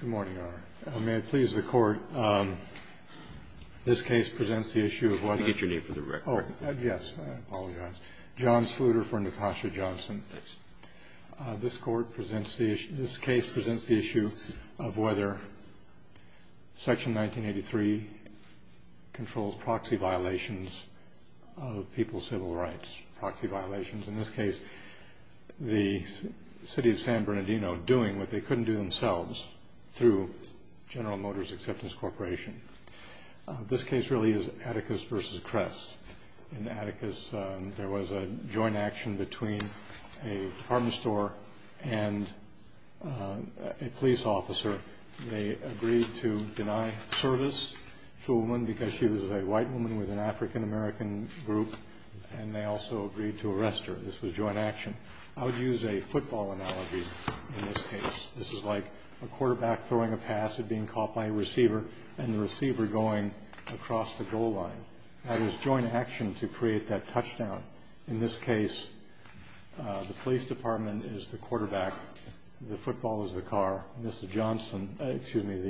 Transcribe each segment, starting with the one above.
Good morning, Your Honor. May it please the Court, this case presents the issue of whether I'll get your name for the record. Oh, yes, I apologize. John Sluder for Natasha Johnson. This Court presents the issue, this case presents the issue of whether Section 1983 controls proxy violations of people's civil rights, proxy violations. In this case, the city of San Bernardino doing what they couldn't do themselves through General Motors Acceptance Corporation. This case really is Atticus versus Cress. In Atticus there was a joint action between a department store and a police officer. They agreed to deny service to a woman because she was a white woman with a blue shirt, this was joint action. I would use a football analogy in this case. This is like a quarterback throwing a pass at being caught by a receiver and the receiver going across the goal line. That is joint action to create that touchdown. In this case, the police department is the quarterback, the football is the car, Mrs. Johnson, excuse me,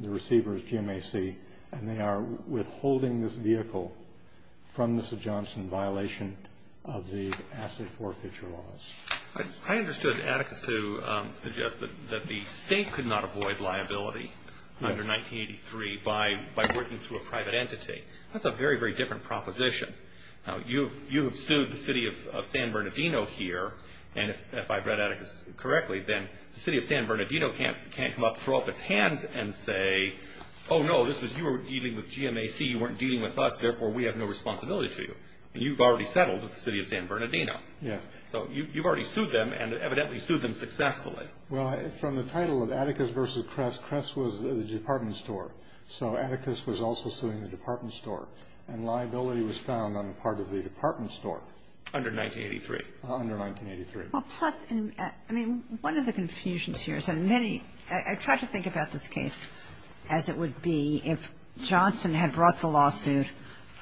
the receiver is GMAC, and they are withholding this pass and forfeit your loss. I understood Atticus to suggest that the state could not avoid liability under 1983 by working through a private entity. That's a very, very different proposition. You have sued the city of San Bernardino here, and if I've read Atticus correctly, then the city of San Bernardino can't come up, throw up its hands and say, oh no, this was, you were dealing with GMAC, you weren't dealing with us, therefore we have no responsibility to you. You've already settled with the city of San Bernardino. Yeah. So you've already sued them and evidently sued them successfully. Well, from the title of Atticus versus Kress, Kress was the department store. So Atticus was also suing the department store. And liability was found on the part of the department store. Under 1983. Under 1983. Well, plus, I mean, one of the confusions here is that many, I try to think about this case as it would be if Johnson had brought the lawsuit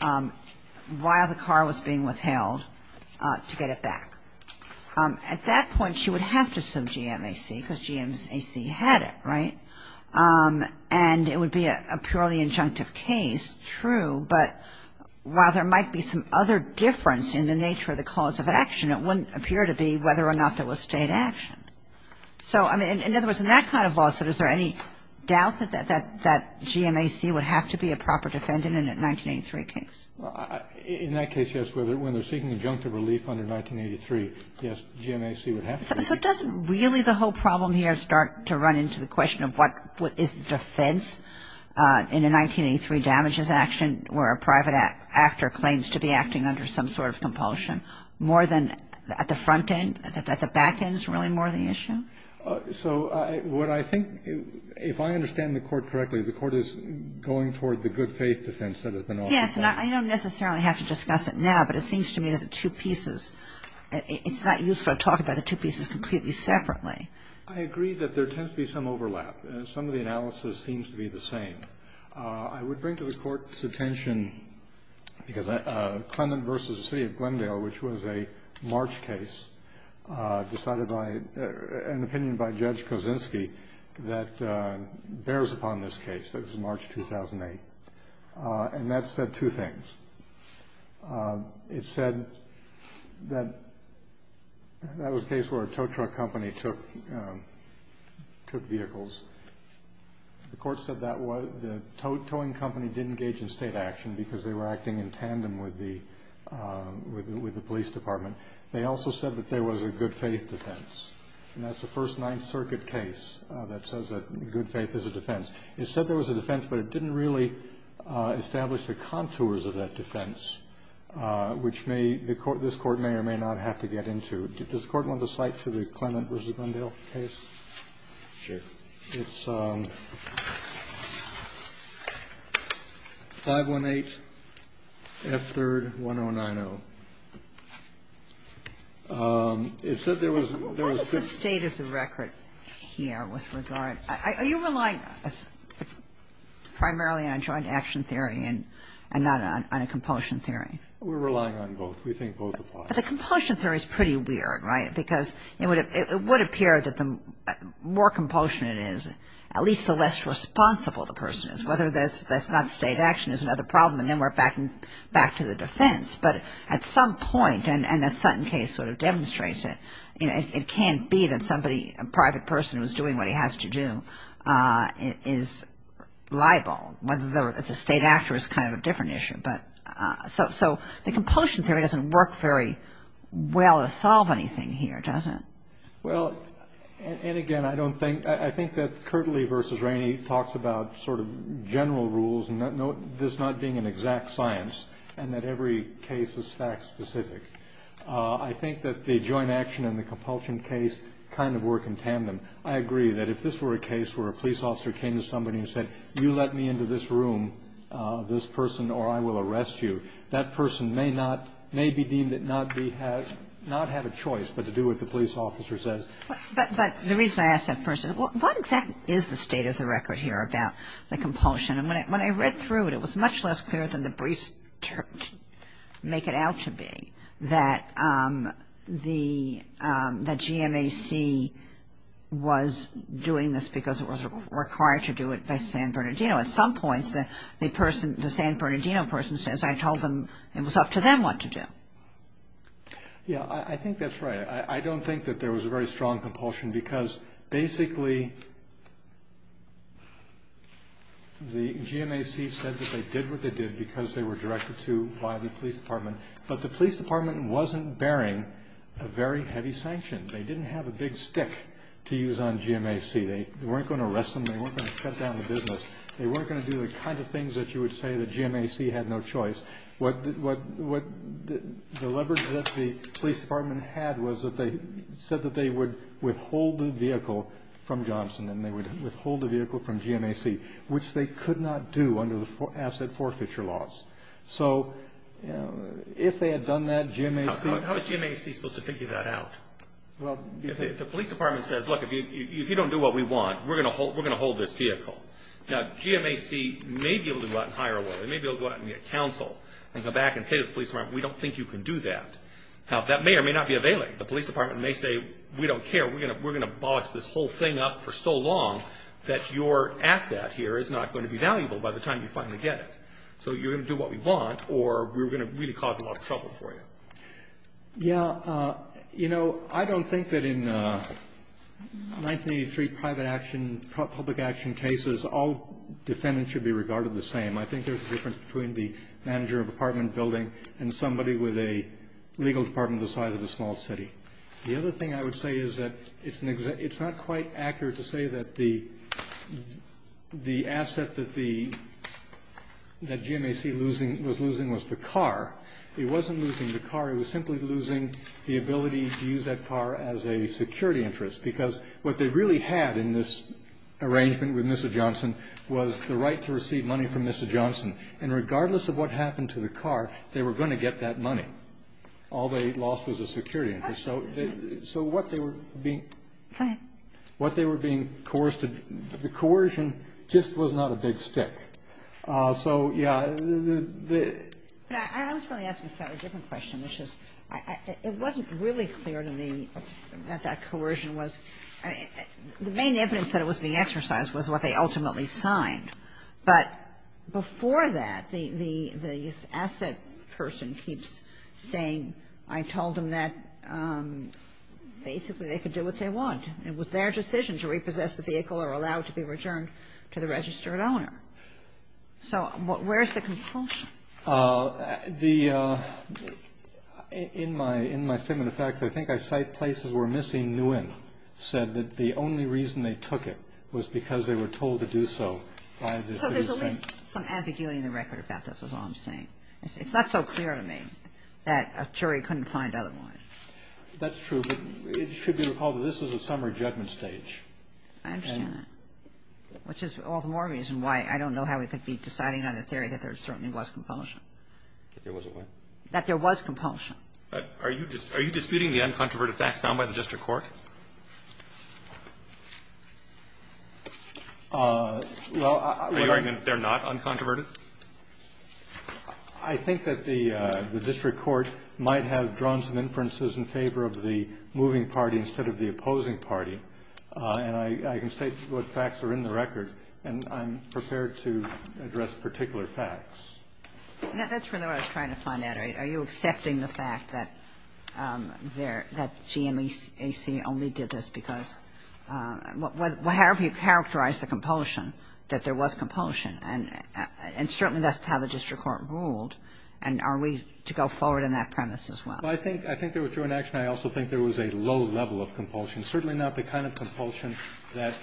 while the car was being withheld to get it back. At that point, she would have to sue GMAC because GMAC had it, right? And it would be a purely injunctive case, true, but while there might be some other difference in the nature of the cause of action, it wouldn't appear to be whether or not there was state action. So, I mean, in other words, in that kind of lawsuit, is there any doubt that GMAC would have to be a proper defendant in a 1983 case? Well, in that case, yes. When they're seeking injunctive relief under 1983, yes, GMAC would have to be. So doesn't really the whole problem here start to run into the question of what is the defense in a 1983 damages action where a private actor claims to be acting under some sort of compulsion, more than at the front end, at the back end is really more of the issue? So what I think, if I understand the Court correctly, the Court is going toward the good faith defense that has been offered. Yes, and I don't necessarily have to discuss it now, but it seems to me that the two pieces, it's not useful to talk about the two pieces completely separately. I agree that there tends to be some overlap, and some of the analysis seems to be the same. I would bring to the Court's attention, because Clement v. The City of Glendale, which was a March case decided by an opinion by Judge Kosinski that bears upon this case, that was March 2008, and that said two things. It said that that was a case where a tow truck company took vehicles. The Court said that the towing company didn't engage in State action because they were acting in tandem with the police department. They also said that there was a good faith defense, and that's the first Ninth Circuit case that says that good faith is a defense. It said there was a defense, but it didn't really establish the contours of that defense, which may the Court, this Court may or may not have to get into. Does the Court want to cite to the Clement v. Glendale case? It's 518 F3rd 1090. It said there was the state of the record here with regard to, are you relying primarily on joint action theory and not on a compulsion theory? We're relying on both. We think both apply. But the compulsion theory is pretty weird, right? Because it would appear that the more compulsion it is, at least the less responsible the person is. Whether that's not State action is another problem, and then we're back to the defense. But at some point, and the Sutton case sort of demonstrates it, it can't be that somebody, a private person who's doing what he has to do, is liable. Whether it's a State actor is kind of a different issue. So the compulsion theory doesn't work very well to solve anything here, does it? Well, and again, I think that Kirtley v. Rainey talks about sort of general rules, this not being an exact science, and that every case is fact specific. I think that the joint action and the compulsion case kind of work in tandem. I agree that if this were a case where a police officer came to somebody and said, you let me into this room, this person, or I will arrest you, that person may not be deemed to not have a choice but to do what the police officer says. But the reason I ask that first, what exactly is the state of the record here about the compulsion? And when I read through it, it was much less clear than the briefs make it out to be that the GMAC was doing this because it was required to do it by San Bernardino. At some points, the San Bernardino person says I told them it was up to them what to do. Yeah, I think that's right. I don't think that there was a very strong compulsion because basically the GMAC said that they did what they did because they were directed to by the police department. But the police department wasn't bearing a very heavy sanction. They didn't have a big stick to use on GMAC. They weren't going to arrest them. They weren't going to shut down the business. They weren't going to do the kind of things that you would say that GMAC had no choice. What the leverage that the police department had was that they said that they would withhold the vehicle from Johnson, and they would withhold the vehicle from GMAC, which they could not do under the asset forfeiture laws. So, you know, if they had done that, GMAC... How is GMAC supposed to figure that out? Well, the police department says, look, if you don't do what we want, we're going to hold this vehicle. Now, GMAC may be able to go out and hire a lawyer. They may be able to go out and get counsel and come back and say to the police department, we don't think you can do that. Now, that may or may not be available. The police department may say, we don't care. We're going to box this whole thing up for so long that your asset here is not going to be valuable by the time you finally get it. So you're going to do what we want, or we're going to really cause a lot of trouble for you. Yeah. You know, I don't think that in 1983 private action, public action cases, all defendants should be regarded the same. I think there's a difference between the manager of an apartment building and somebody with a legal department on the side of a small city. The other thing I would say is that it's not quite accurate to say that the asset that the GMAC was losing was the car. It wasn't losing the car. It was simply losing the ability to use that car as a security interest, because what they really had in this arrangement with Mr. Johnson was the right to receive money from Mr. Johnson. And regardless of what happened to the car, they were going to get that money. All they lost was a security interest. So what they were being coerced, the coercion just was not a big stick. So, yeah. I was really asking a slightly different question, which is it wasn't really clear to me that that coercion was the main evidence that it was being exercised was what they ultimately signed. But before that, the asset person keeps saying, I told them that basically they could do what they want. It was their decision to repossess the vehicle or allow it to be returned to the registered owner. So where's the compulsion? The In my in my statement of facts, I think I cite places where Missy Nguyen said that the only reason they took it was because they were told to do so by the city. So there's at least some ambiguity in the record about this is all I'm saying. It's not so clear to me that a jury couldn't find otherwise. That's true. But it should be recalled that this is a summer judgment stage. I understand that. Which is all the more reason why I don't know how we could be deciding on a theory that there certainly was compulsion. There was a what? That there was compulsion. Are you are you disputing the uncontroverted facts found by the district court? Well, I mean, they're not uncontroverted. I think that the district court might have drawn some inferences in favor of the moving party instead of the opposing party. And I can state what facts are in the record. And I'm prepared to address particular facts. That's really what I was trying to find out. Are you accepting the fact that there that GMAC only did this because however you characterize the compulsion, that there was compulsion. And certainly that's how the district court ruled. And are we to go forward in that premise as well? I think I think there was true inaction. I also think there was a low level of compulsion. Certainly not the kind of compulsion that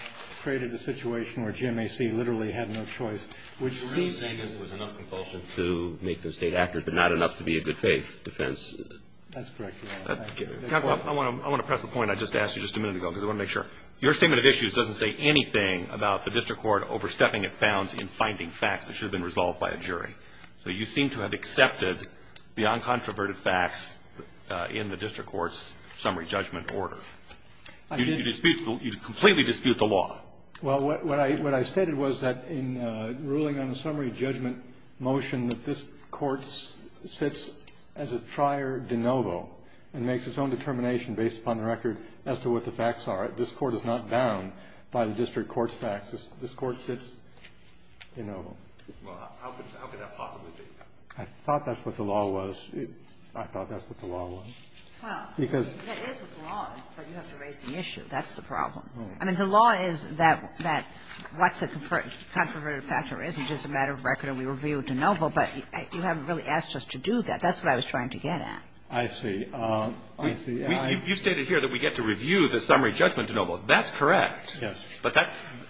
created the situation where GMAC literally had no choice, which seems. You're really saying that there was enough compulsion to make the State accurate but not enough to be a good-faith defense? That's correct, Your Honor. Counsel, I want to press the point I just asked you just a minute ago because I want to make sure. Your statement of issues doesn't say anything about the district court overstepping its bounds in finding facts that should have been resolved by a jury. So you seem to have accepted the uncontroverted facts in the district court's summary judgment order. You dispute the law, you completely dispute the law. Well, what I stated was that in ruling on the summary judgment motion that this court sits as a trier de novo and makes its own determination based upon the record as to what the facts are. This court is not bound by the district court's facts. This court sits de novo. Well, how could that possibly be? I thought that's what the law was. I thought that's what the law was. Well, that is what the law is, but you have to raise the issue. That's the problem. I mean, the law is that what's a controverted factor isn't just a matter of record and we review de novo, but you haven't really asked us to do that. That's what I was trying to get at. I see. I see. You've stated here that we get to review the summary judgment de novo. That's correct. Yes. But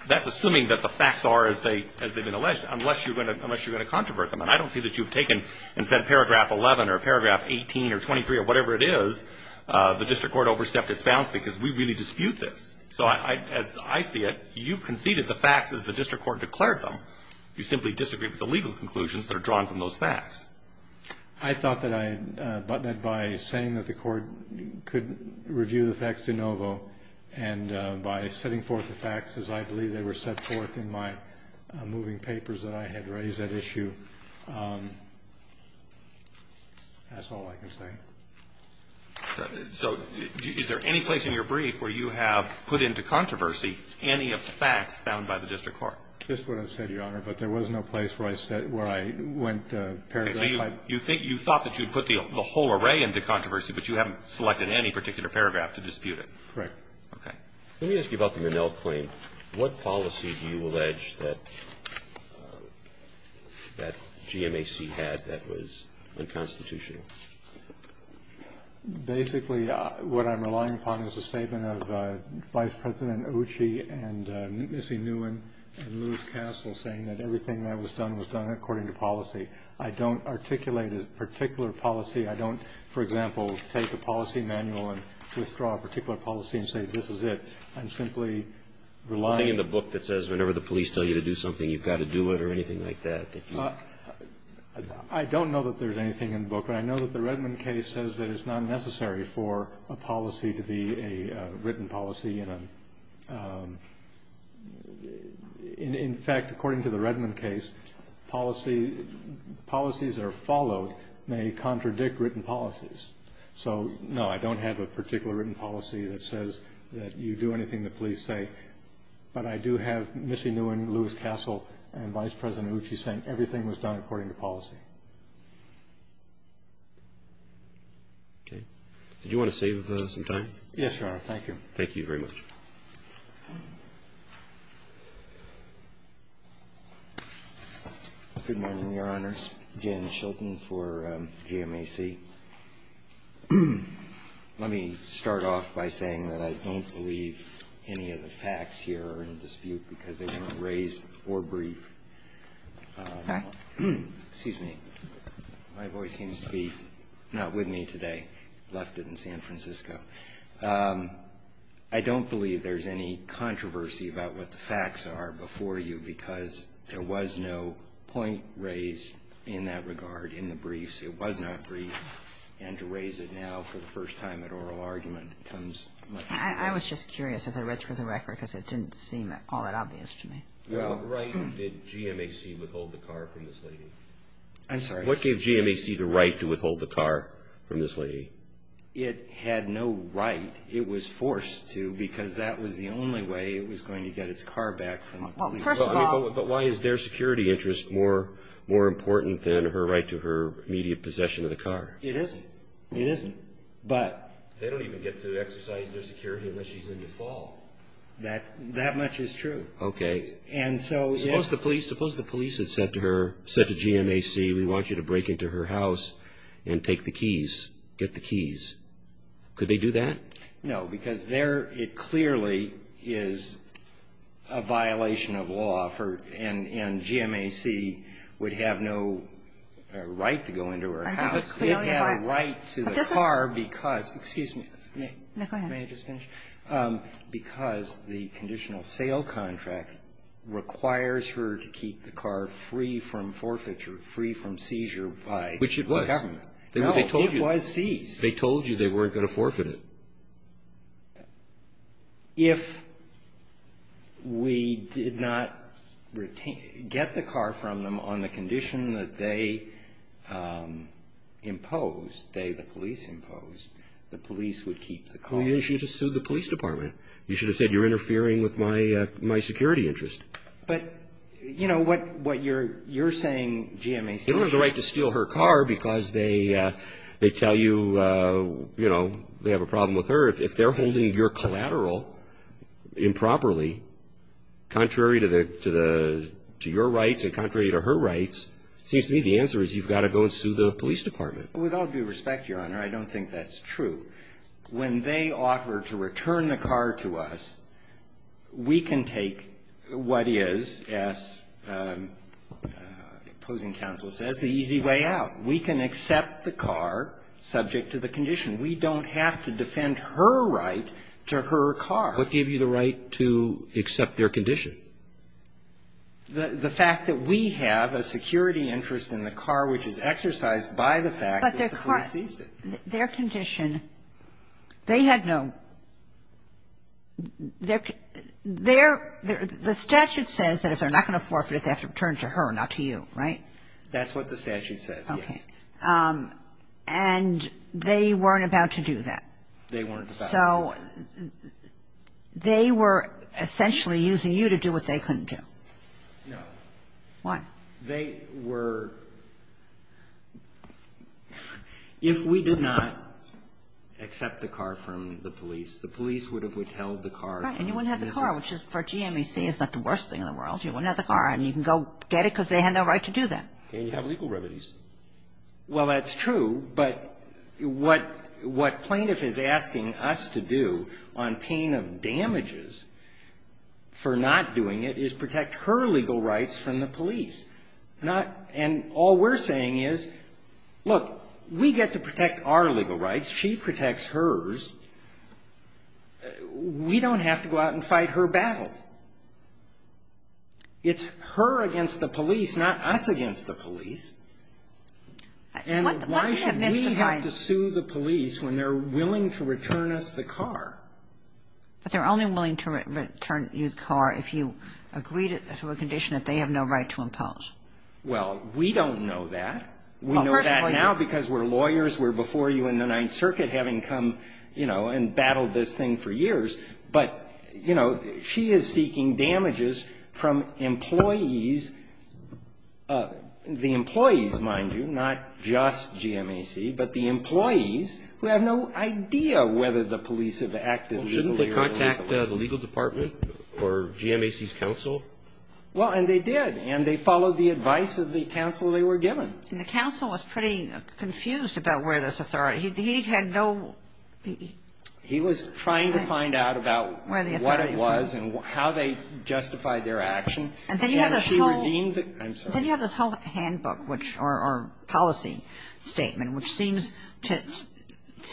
that's assuming that the facts are as they've been alleged, unless you're going to controvert them. And I don't see that you've taken and said paragraph 11 or paragraph 18 or 23 or whatever it is, the district court overstepped its bounds because we really dispute this. So as I see it, you conceded the facts as the district court declared them. You simply disagree with the legal conclusions that are drawn from those facts. I thought that I had done that by saying that the court could review the facts de novo and by setting forth the facts as I believe they were set forth in my moving papers that I had raised that issue. That's all I can say. So is there any place in your brief where you have put into controversy any of the facts found by the district court? That's what I said, Your Honor, but there was no place where I said or where I went to paragraph type. Okay. So you think you thought that you'd put the whole array into controversy, but you haven't selected any particular paragraph to dispute it? Correct. Okay. Let me ask you about the Minnell claim. What policy do you allege that GMAC had that was unconstitutional? Basically, what I'm relying upon is a statement of Vice President Occe and Missy Nguyen and Louis Castle saying that everything that was done was done according to policy. I don't articulate a particular policy. I don't, for example, take a policy manual and withdraw a particular policy and say this is it. I'm simply relying on the book that says whenever the police tell you to do something, you've got to do it or anything like that. I don't know that there's anything in the book, but I know that the Redmond case says that it's not necessary for a policy to be a written policy. In fact, according to the Redmond case, policies that are followed may contradict written policies. So, no, I don't have a particular written policy that says that you do anything the police say, but I do have Missy Nguyen, Louis Castle, and Vice President Occe saying everything was done according to policy. Okay. Did you want to save some time? Yes, Your Honor. Thank you. Thank you very much. Good morning, Your Honors. Jan Shilton for GMAC. Let me start off by saying that I don't believe any of the facts here are in dispute because they weren't raised or briefed. Excuse me. My voice seems to be not with me today. Left it in San Francisco. I don't believe there's any controversy about what the facts are before you, because there was no point raised in that regard in the briefs. It was not briefed. And to raise it now for the first time at oral argument comes much later. I was just curious as I read through the record because it didn't seem all that obvious to me. What right did GMAC withhold the car from this lady? I'm sorry. What gave GMAC the right to withhold the car from this lady? It had no right. It was forced to because that was the only way it was going to get its car back from a police officer. But why is their security interest more important than her right to her immediate possession of the car? It isn't. It isn't. But they don't even get to exercise their security unless she's in the fall. That much is true. OK. And so suppose the police had said to her, said to GMAC, we want you to break into her house and take the keys. Get the keys. Could they do that? No, because there it clearly is a violation of law for and GMAC would have no right to go into her house. It had a right to the car because, excuse me. May I just finish? Because the conditional sale contract requires her to keep the car free from forfeiture, free from seizure by the government. Which it was. No, it was seized. They told you they weren't going to forfeit it. If we did not get the car from them on the condition that they imposed, they, the police imposed, the police would keep the car. Well, you should have sued the police department. You should have said you're interfering with my security interest. But, you know, what you're saying, GMAC. They don't have the right to steal her car because they tell you, you know, they have a problem with her. If they're holding your collateral improperly, contrary to your rights and contrary to her rights, it seems to me the answer is you've got to go and sue the police department. With all due respect, Your Honor, I don't think that's true. When they offer to return the car to us, we can take what is, as the opposing counsel says, the easy way out. We can accept the car subject to the condition. We don't have to defend her right to her car. What gave you the right to accept their condition? The fact that we have a security interest in the car which is exercised by the fact that the police seized it. Their condition, they had no – their – the statute says that if they're not going to forfeit, they have to return it to her, not to you, right? That's what the statute says, yes. Okay. And they weren't about to do that. They weren't about to do that. So they were essentially using you to do what they couldn't do. No. Why? They were – if we did not accept the car from the police, the police would have withheld the car from Mrs. – Right. And you wouldn't have the car, which is – for GMAC, it's not the worst thing in the world. You wouldn't have the car, and you can go get it because they had no right to do that. And you have legal remedies. Well, that's true, but what plaintiff is asking us to do on pain of damages for not doing it is protect her legal rights from the police. Not – and all we're saying is, look, we get to protect our legal rights. She protects hers. We don't have to go out and fight her battle. It's her against the police, not us against the police. And why should we have to sue the police when they're willing to return us the car? But they're only willing to return you the car if you agree to a condition that they have no right to impose. Well, we don't know that. We know that now because we're lawyers. We're before you in the Ninth Circuit having come, you know, and battled this thing for years. But, you know, she is seeking damages from employees – the employees, mind you, not just GMAC, but the employees who have no idea whether the police have acted legally or illegally. Well, shouldn't they contact the legal department or GMAC's counsel? Well, and they did. And they followed the advice of the counsel they were given. And the counsel was pretty confused about where this authority – he had no – He was trying to find out about what it was and how they justified their action. And then you have this whole handbook, which – or policy statement, which seems to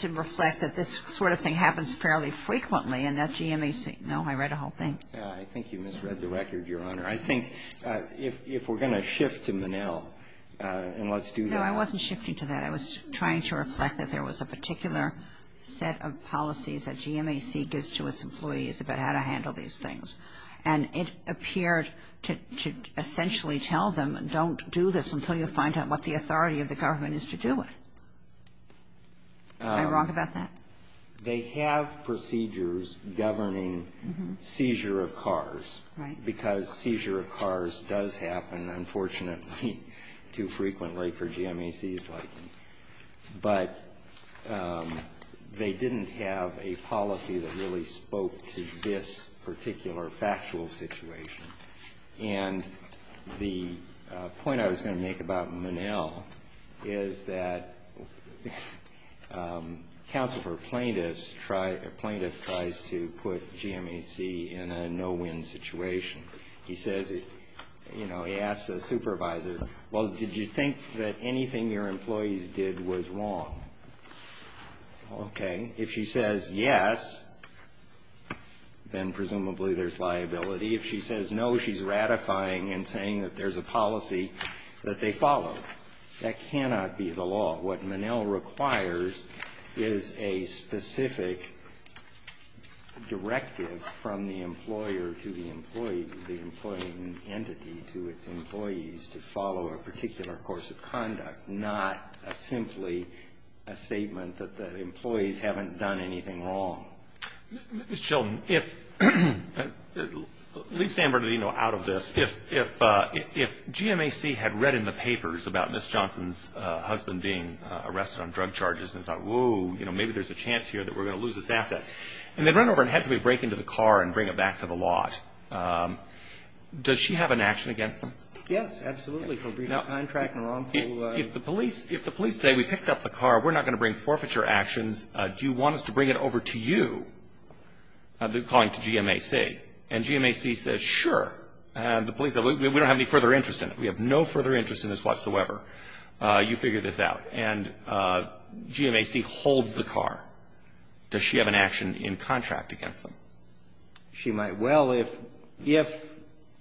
reflect that this sort of thing happens fairly frequently in that GMAC. No, I read the whole thing. I think you misread the record, Your Honor. I think if we're going to shift to Monell, and let's do that. No, I wasn't shifting to that. I was trying to reflect that there was a particular set of policies that GMAC gives to its employees about how to handle these things. And it appeared to essentially tell them, don't do this until you find out what the authority of the government is to do it. Am I wrong about that? They have procedures governing seizure of cars. Right. Because seizure of cars does happen, unfortunately, too frequently for GMAC's liking. But they didn't have a policy that really spoke to this particular factual situation. And the point I was going to make about Monell is that counsel for plaintiffs try – a plaintiff tries to put GMAC in a no-win situation. He says, you know, he asks a supervisor, well, did you think that anything your employees did was wrong? Okay. If she says yes, then presumably there's liability. If she says no, she's ratifying and saying that there's a policy that they follow. That cannot be the law. What Monell requires is a specific directive from the employer to the employee to the employee entity to its employees to follow a particular course of conduct, not simply a statement that the employees haven't done anything wrong. Ms. Chilton, if – leave San Bernardino out of this. If GMAC had read in the papers about Ms. Johnson's husband being arrested on drug charges and thought, whoa, you know, maybe there's a chance here that we're going to lose this asset, and they'd run over and have somebody break into the car and bring it back to the lot, does she have an action against them? Yes, absolutely, for breach of contract and wrongful – If the police – if the police say, we picked up the car, we're not going to bring it over to you, calling to GMAC, and GMAC says, sure, and the police say, we don't have any further interest in it, we have no further interest in this whatsoever, you figure this out, and GMAC holds the car, does she have an action in contract against them? She might. Well, if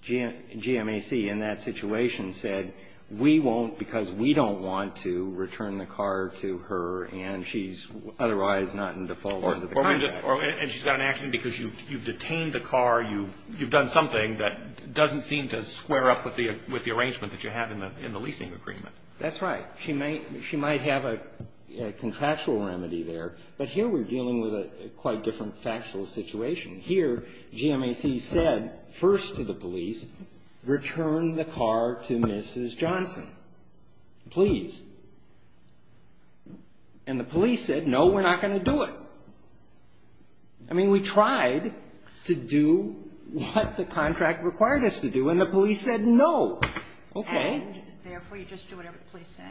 GMAC in that situation said, we won't because we don't want to return the car to her, and she's otherwise not in default under the contract. And she's got an action because you've detained the car, you've done something that doesn't seem to square up with the arrangement that you have in the leasing agreement. That's right. She might have a contractual remedy there. But here we're dealing with a quite different factual situation. Here, GMAC said first to the police, return the car to Mrs. Johnson. Please. And the police said, no, we're not going to do it. I mean, we tried to do what the contract required us to do, and the police said, no. OK. And, therefore, you just do whatever the police say?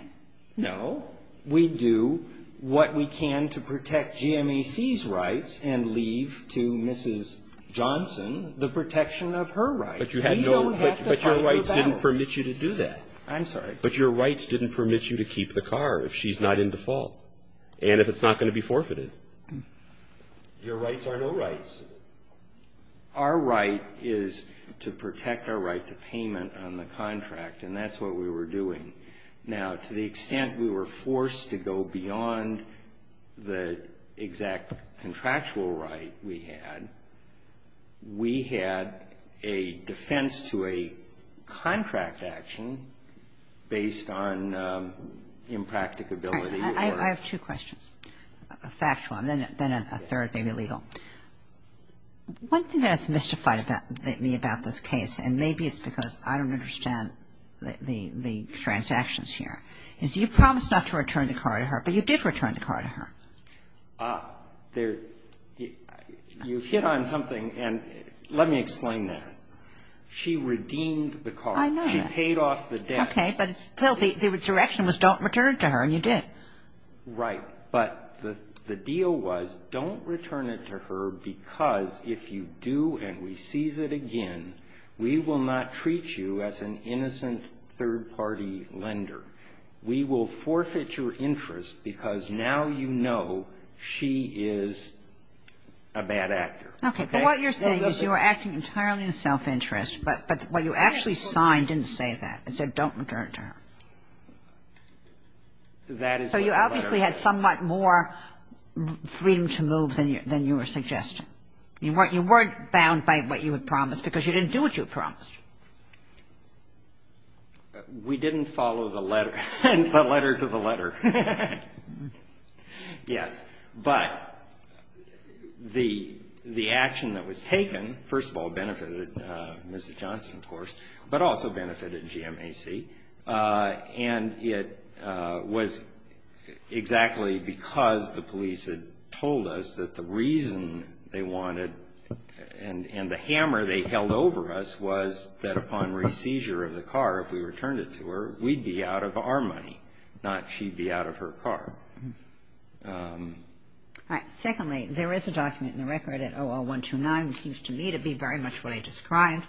No. We do what we can to protect GMAC's rights and leave to Mrs. Johnson the protection of her rights. But you had no, but your rights didn't permit you to do that. I'm sorry? But your rights didn't permit you to keep the car if she's not in default and if it's not going to be forfeited. Your rights are no rights. Our right is to protect our right to payment on the contract, and that's what we were doing. Now, to the extent we were forced to go beyond the exact contractual right we had, we had a defense to a contract action based on impracticability or – I have two questions, a factual and then a third may be legal. One thing that has mystified me about this case, and maybe it's because I don't understand the transactions here, is you promised not to return the car to her, but you did return the car to her. Ah, there – you hit on something, and let me explain that. She redeemed the car. I know that. She paid off the debt. Okay, but still the direction was don't return it to her, and you did. Right. But the deal was don't return it to her because if you do and we seize it again, we will not treat you as an innocent third-party lender. We will forfeit your interest because now you know she is a bad actor. Okay, but what you're saying is you were acting entirely in self-interest, but what you actually signed didn't say that. It said don't return it to her. That is what the letter – So you obviously had somewhat more freedom to move than you were suggesting. You weren't bound by what you had promised because you didn't do what you had promised. We didn't follow the letter – the letter to the letter. Yes, but the action that was taken, first of all, benefited Mrs. Johnson, of course, but also benefited GMAC, and it was exactly because the police had told us that the reason they wanted And the hammer they held over us was that upon re-seizure of the car, if we returned it to her, we'd be out of our money, not she'd be out of her car. All right. Secondly, there is a document in the record at OL129, which seems to me to be very much what I described.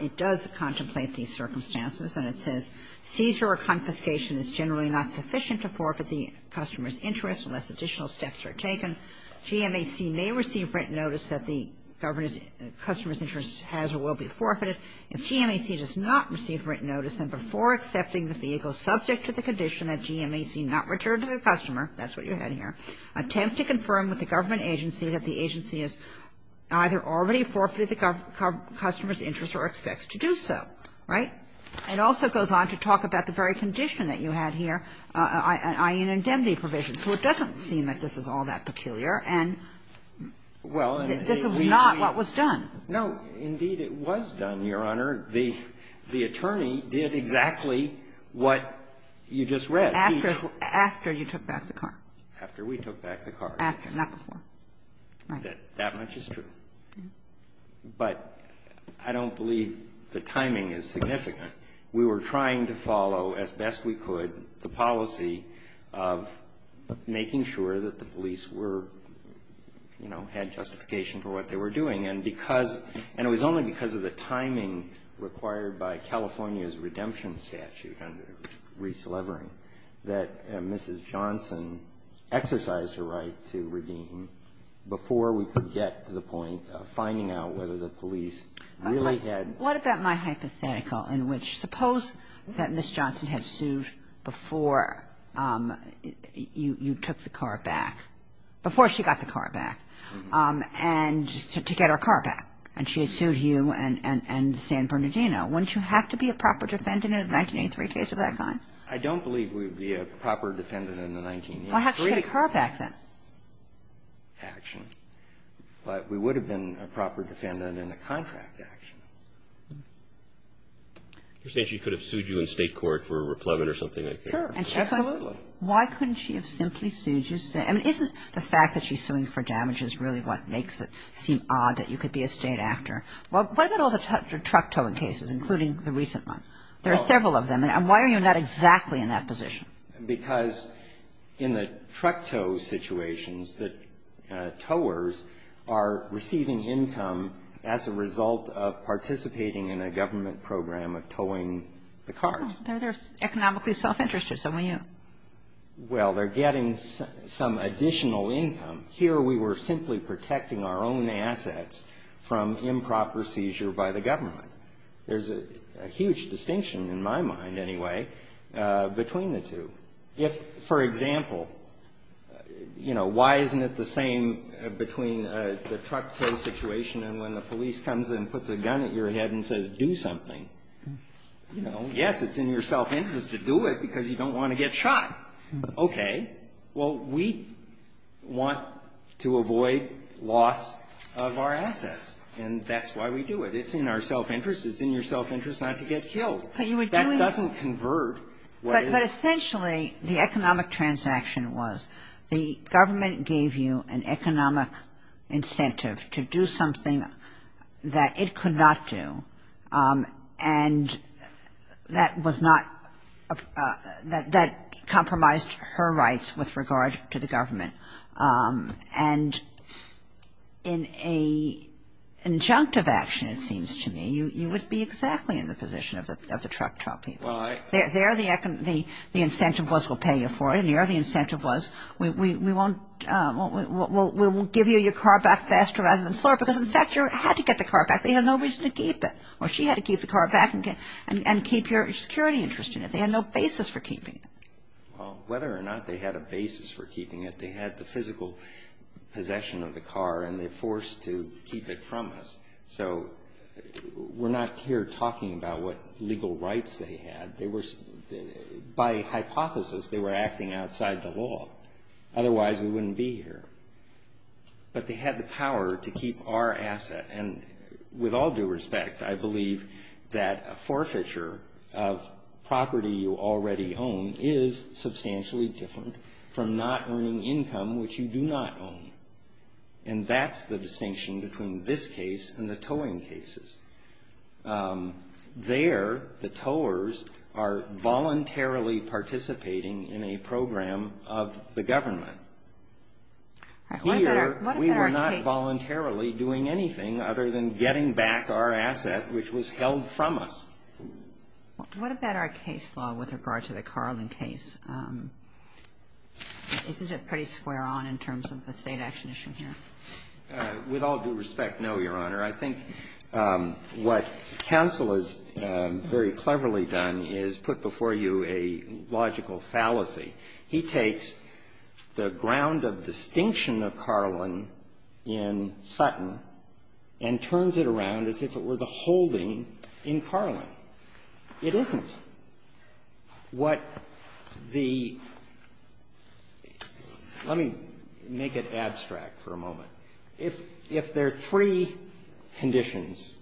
It does contemplate these circumstances, and it says, Seizure or confiscation is generally not sufficient to forfeit the customer's interest unless additional steps are taken. GMAC may receive written notice that the customer's interest has or will be forfeited. If GMAC does not receive written notice, then before accepting the vehicle subject to the condition that GMAC not return to the customer, that's what you had here, attempt to confirm with the government agency that the agency has either already forfeited the customer's interest or expects to do so. Right? It also goes on to talk about the very condition that you had here, i.e., an indemnity provision. So it doesn't seem that this is all that peculiar, and this was not what was done. No. Indeed, it was done, Your Honor. The attorney did exactly what you just read. After you took back the car. After we took back the car. After, not before. Right. That much is true. But I don't believe the timing is significant. We were trying to follow as best we could the policy of making sure that the police were, you know, had justification for what they were doing. And because, and it was only because of the timing required by California's redemption statute under Reese Levering that Mrs. Johnson exercised her right to redeem before we could get to the point of finding out whether the police really had. What about my hypothetical in which suppose that Mrs. Johnson had sued before you took the car back, before she got the car back, and to get her car back, and she had sued you and San Bernardino. Wouldn't you have to be a proper defendant in a 1983 case of that kind? I don't believe we would be a proper defendant in the 1983. Well, have to get her back then. But we would have been a proper defendant in a contract action. You're saying she could have sued you in state court for a replevant or something like that? Sure. Absolutely. Why couldn't she have simply sued you? I mean, isn't the fact that she's suing for damage is really what makes it seem odd that you could be a state actor? What about all the truck towing cases, including the recent one? There are several of them. And why are you not exactly in that position? Because in the truck tow situations, the towers are receiving income as a result of participating in a government program of towing the cars. They're economically self-interested, so when you --. Well, they're getting some additional income. Here we were simply protecting our own assets from improper seizure by the government. There's a huge distinction, in my mind, anyway, between the two. If, for example, you know, why isn't it the same between the truck tow situation and when the police comes and puts a gun at your head and says, do something? You know, yes, it's in your self-interest to do it because you don't want to get shot. Okay. Well, we want to avoid loss of our assets. And that's why we do it. It's in our self-interest. It's in your self-interest not to get killed. But you would do it. That doesn't convert what is. But essentially, the economic transaction was the government gave you an economic incentive to do something that it could not do. And that was not – that compromised her rights with regard to the government. And in an injunctive action, it seems to me, you would be exactly in the position of the truck tow people. Well, I – There the incentive was we'll pay you for it. And here the incentive was we won't – we'll give you your car back faster rather than slower because, in fact, you had to get the car back. They had no reason to keep it. Or she had to keep the car back and keep your security interest in it. They had no basis for keeping it. Well, whether or not they had a basis for keeping it, they had the physical possession of the car and they forced to keep it from us. So we're not here talking about what legal rights they had. They were – by hypothesis, they were acting outside the law. Otherwise, we wouldn't be here. But they had the power to keep our asset. And with all due respect, I believe that a forfeiture of property you already own is substantially different from not earning income which you do not own. And that's the distinction between this case and the towing cases. There, the towers are voluntarily participating in a program of the government. Here, we were not voluntarily doing anything. Other than getting back our asset which was held from us. What about our case law with regard to the Carlin case? Isn't it pretty square on in terms of the state action issue here? With all due respect, no, Your Honor. I think what counsel has very cleverly done is put before you a logical fallacy. He takes the ground of distinction of Carlin in Sutton and turns it around as if it were the holding in Carlin. It isn't what the – let me make it abstract for a moment. If there are three conditions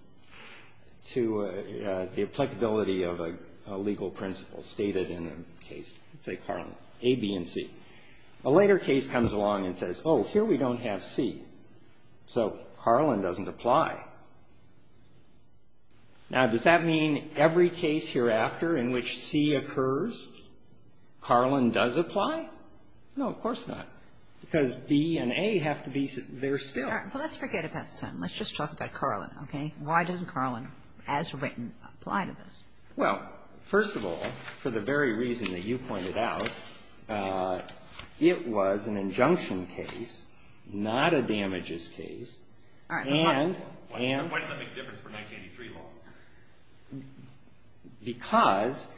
to the applicability of a legal principle stated in a case, let's say Carlin, A, B, and C. A later case comes along and says, oh, here we don't have C. So Carlin doesn't apply. Now, does that mean every case hereafter in which C occurs, Carlin does apply? No, of course not. Because B and A have to be there still. All right. Well, let's forget about Sutton. Let's just talk about Carlin, okay? Why doesn't Carlin as written apply to this? Well, first of all, for the very reason that you pointed out, it was an injunction case, not a damages case. All right, but why? Why does that make a difference for 1983 law? Because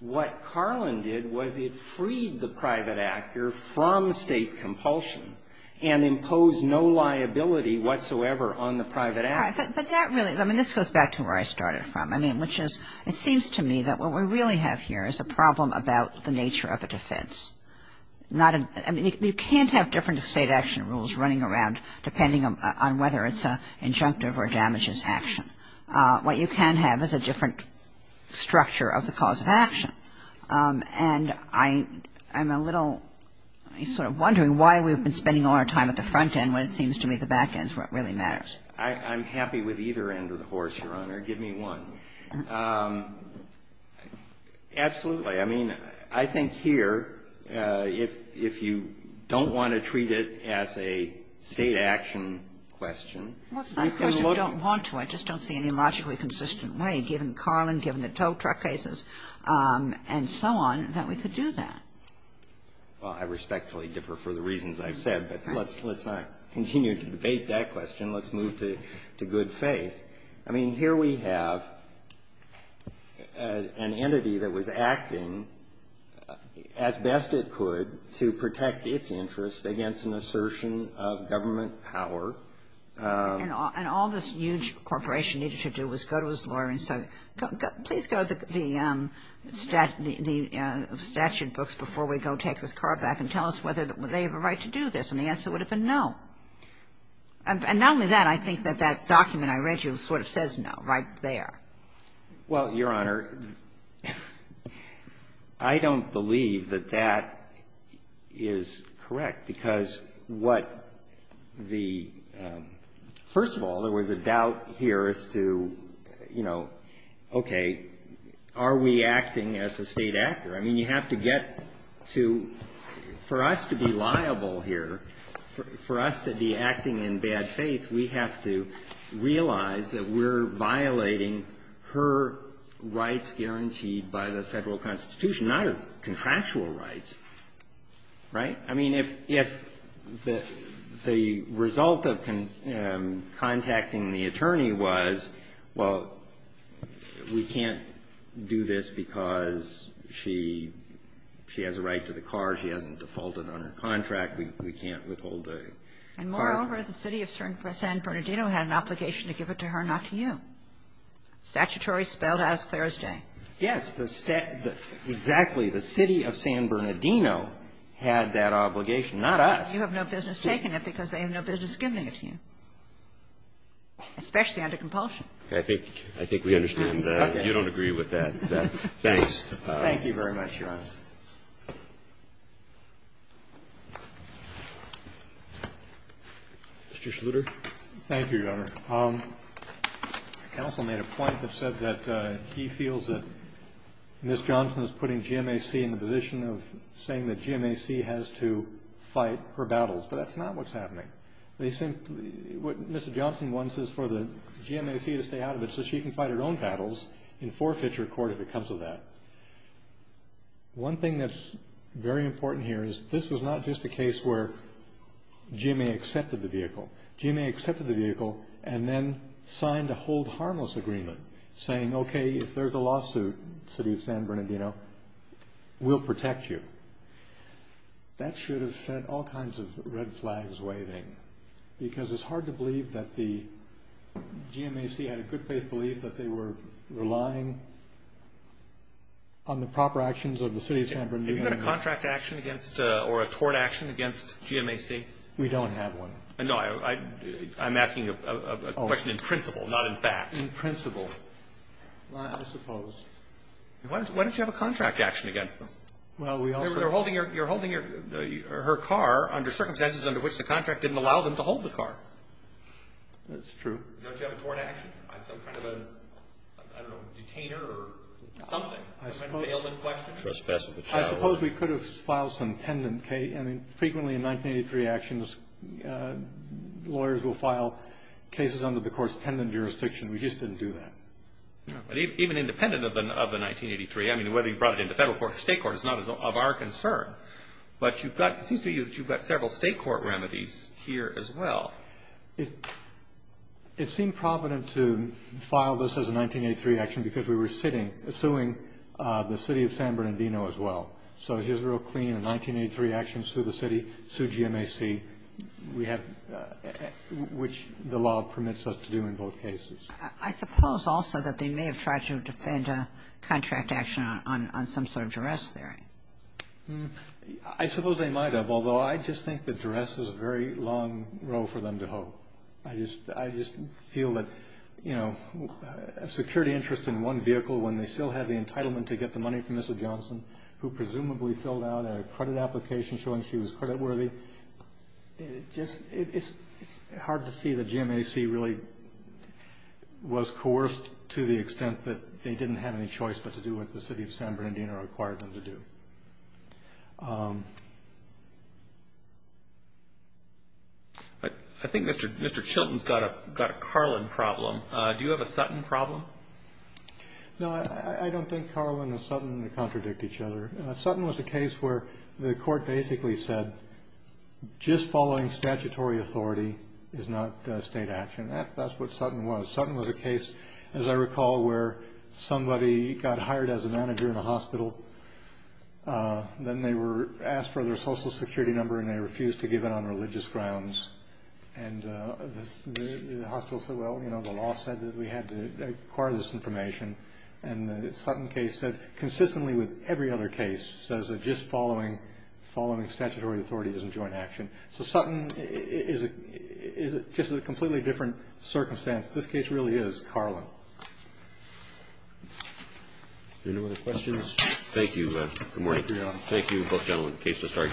what Carlin did was it freed the private actor from state compulsion and imposed no liability whatsoever on the private actor. All right, but that really – I mean, this goes back to where I started from, I mean, which is it seems to me that what we really have here is a problem about the nature of a defense, not a – I mean, you can't have different state action rules running around depending on whether it's an injunctive or a damages action. What you can have is a different structure of the cause of action. And I'm a little – I'm sort of wondering why we've been spending all our time at the front end when it seems to me the back end is what really matters. I'm happy with either end of the horse, Your Honor. Give me one. Absolutely. I mean, I think here, if you don't want to treat it as a state action question, you can look at the other side of the law as a state action question. Well, it's not a question of don't want to. I just don't see any logically consistent way, given Carlin, given the tow truck cases, and so on, that we could do that. Well, I respectfully differ for the reasons I've said, but let's not continue to debate that question. Let's move to good faith. I mean, here we have an entity that was acting as best it could to protect its interests against an assertion of government power. And all this huge corporation needed to do was go to its lawyer and say, please go to the statute books before we go take this car back and tell us whether they have a right to do this, and the answer would have been no. And not only that, I think that that document I read you sort of says no right there. Well, Your Honor, I don't believe that that is correct, because what the — first of all, there was a doubt here as to, you know, okay, are we acting as a State actor? I mean, you have to get to — for us to be liable here, for us to be acting in bad faith, we have to realize that we're violating her rights guaranteed by the Federal Constitution, not her contractual rights. Right? I mean, if the result of contacting the attorney was, well, we can't do this because she has a right to the car, she hasn't defaulted on her contract, we can't withhold the car. And moreover, the City of San Bernardino had an obligation to give it to her, not to you. Statutory spelled out as clear as day. Yes. The State — exactly. The City of San Bernardino had that obligation, not us. You have no business taking it because they have no business giving it to you, especially under compulsion. Okay. I think we understand that. You don't agree with that. Thanks. Thank you very much, Your Honor. Mr. Schluter. Thank you, Your Honor. Counsel made a point that said that he feels that Ms. Johnson is putting GMAC in the position of saying that GMAC has to fight her battles. But that's not what's happening. They simply — what Mr. Johnson wants is for the GMAC to stay out of it so she can fight her own battles and forfeit her court if it comes to that. One thing that's very important here is this was not just a case where GMA accepted the vehicle. GMA accepted the vehicle and then signed a hold harmless agreement saying, okay, if there's a lawsuit, City of San Bernardino, we'll protect you. That should have sent all kinds of red flags waving because it's hard to believe that the GMAC had a good faith belief that they were relying on the proper actions of the City of San Bernardino. Have you had a contract action against — or a tort action against GMAC? We don't have one. No, I'm asking a question in principle, not in fact. In principle, I suppose. Why don't you have a contract action against them? Well, we also — You're holding her car under circumstances under which the contract didn't allow them to hold the car. That's true. Don't you have a tort action? Some kind of a, I don't know, detainer or something? Some kind of bailman question? I suppose we could have filed some pendant — I mean, frequently in 1983 actions, lawyers will file cases under the court's pendant jurisdiction. We just didn't do that. Even independent of the 1983, I mean, whether you brought it into federal court or state court is not of our concern. But you've got — it seems to me that you've got several state court remedies here as well. It seemed provident to file this as a 1983 action because we were sitting — suing the city of San Bernardino as well. So here's a real clean, a 1983 action, sue the city, sue GMAC. We have — which the law permits us to do in both cases. I suppose also that they may have tried to defend a contract action on some sort of duress theory. I suppose they might have, although I just think that duress is a very long row for them to hoe. I just feel that, you know, a security interest in one vehicle when they still have the entitlement to get the money from Mrs. Johnson, who presumably filled out a credit application showing she was creditworthy, it just — it's hard to see that GMAC really was coerced to the extent that they didn't have any choice but to do what the city of San Bernardino required them to do. I think Mr. Chilton's got a Carlin problem. Do you have a Sutton problem? No, I don't think Carlin and Sutton contradict each other. Sutton was a case where the court basically said just following statutory authority is not state action. That's what Sutton was. Sutton was a case, as I recall, where somebody got hired as a manager in a hospital. Then they were asked for their Social Security number, and they refused to give it on religious grounds. And the hospital said, well, you know, the law said that we had to acquire this information. And the Sutton case said, consistently with every other case, says that just following statutory authority isn't joint action. So Sutton is just a completely different circumstance. This case really is Carlin. Are there any other questions? Thank you. Good morning. Thank you, both gentlemen. The case has started to be submitted.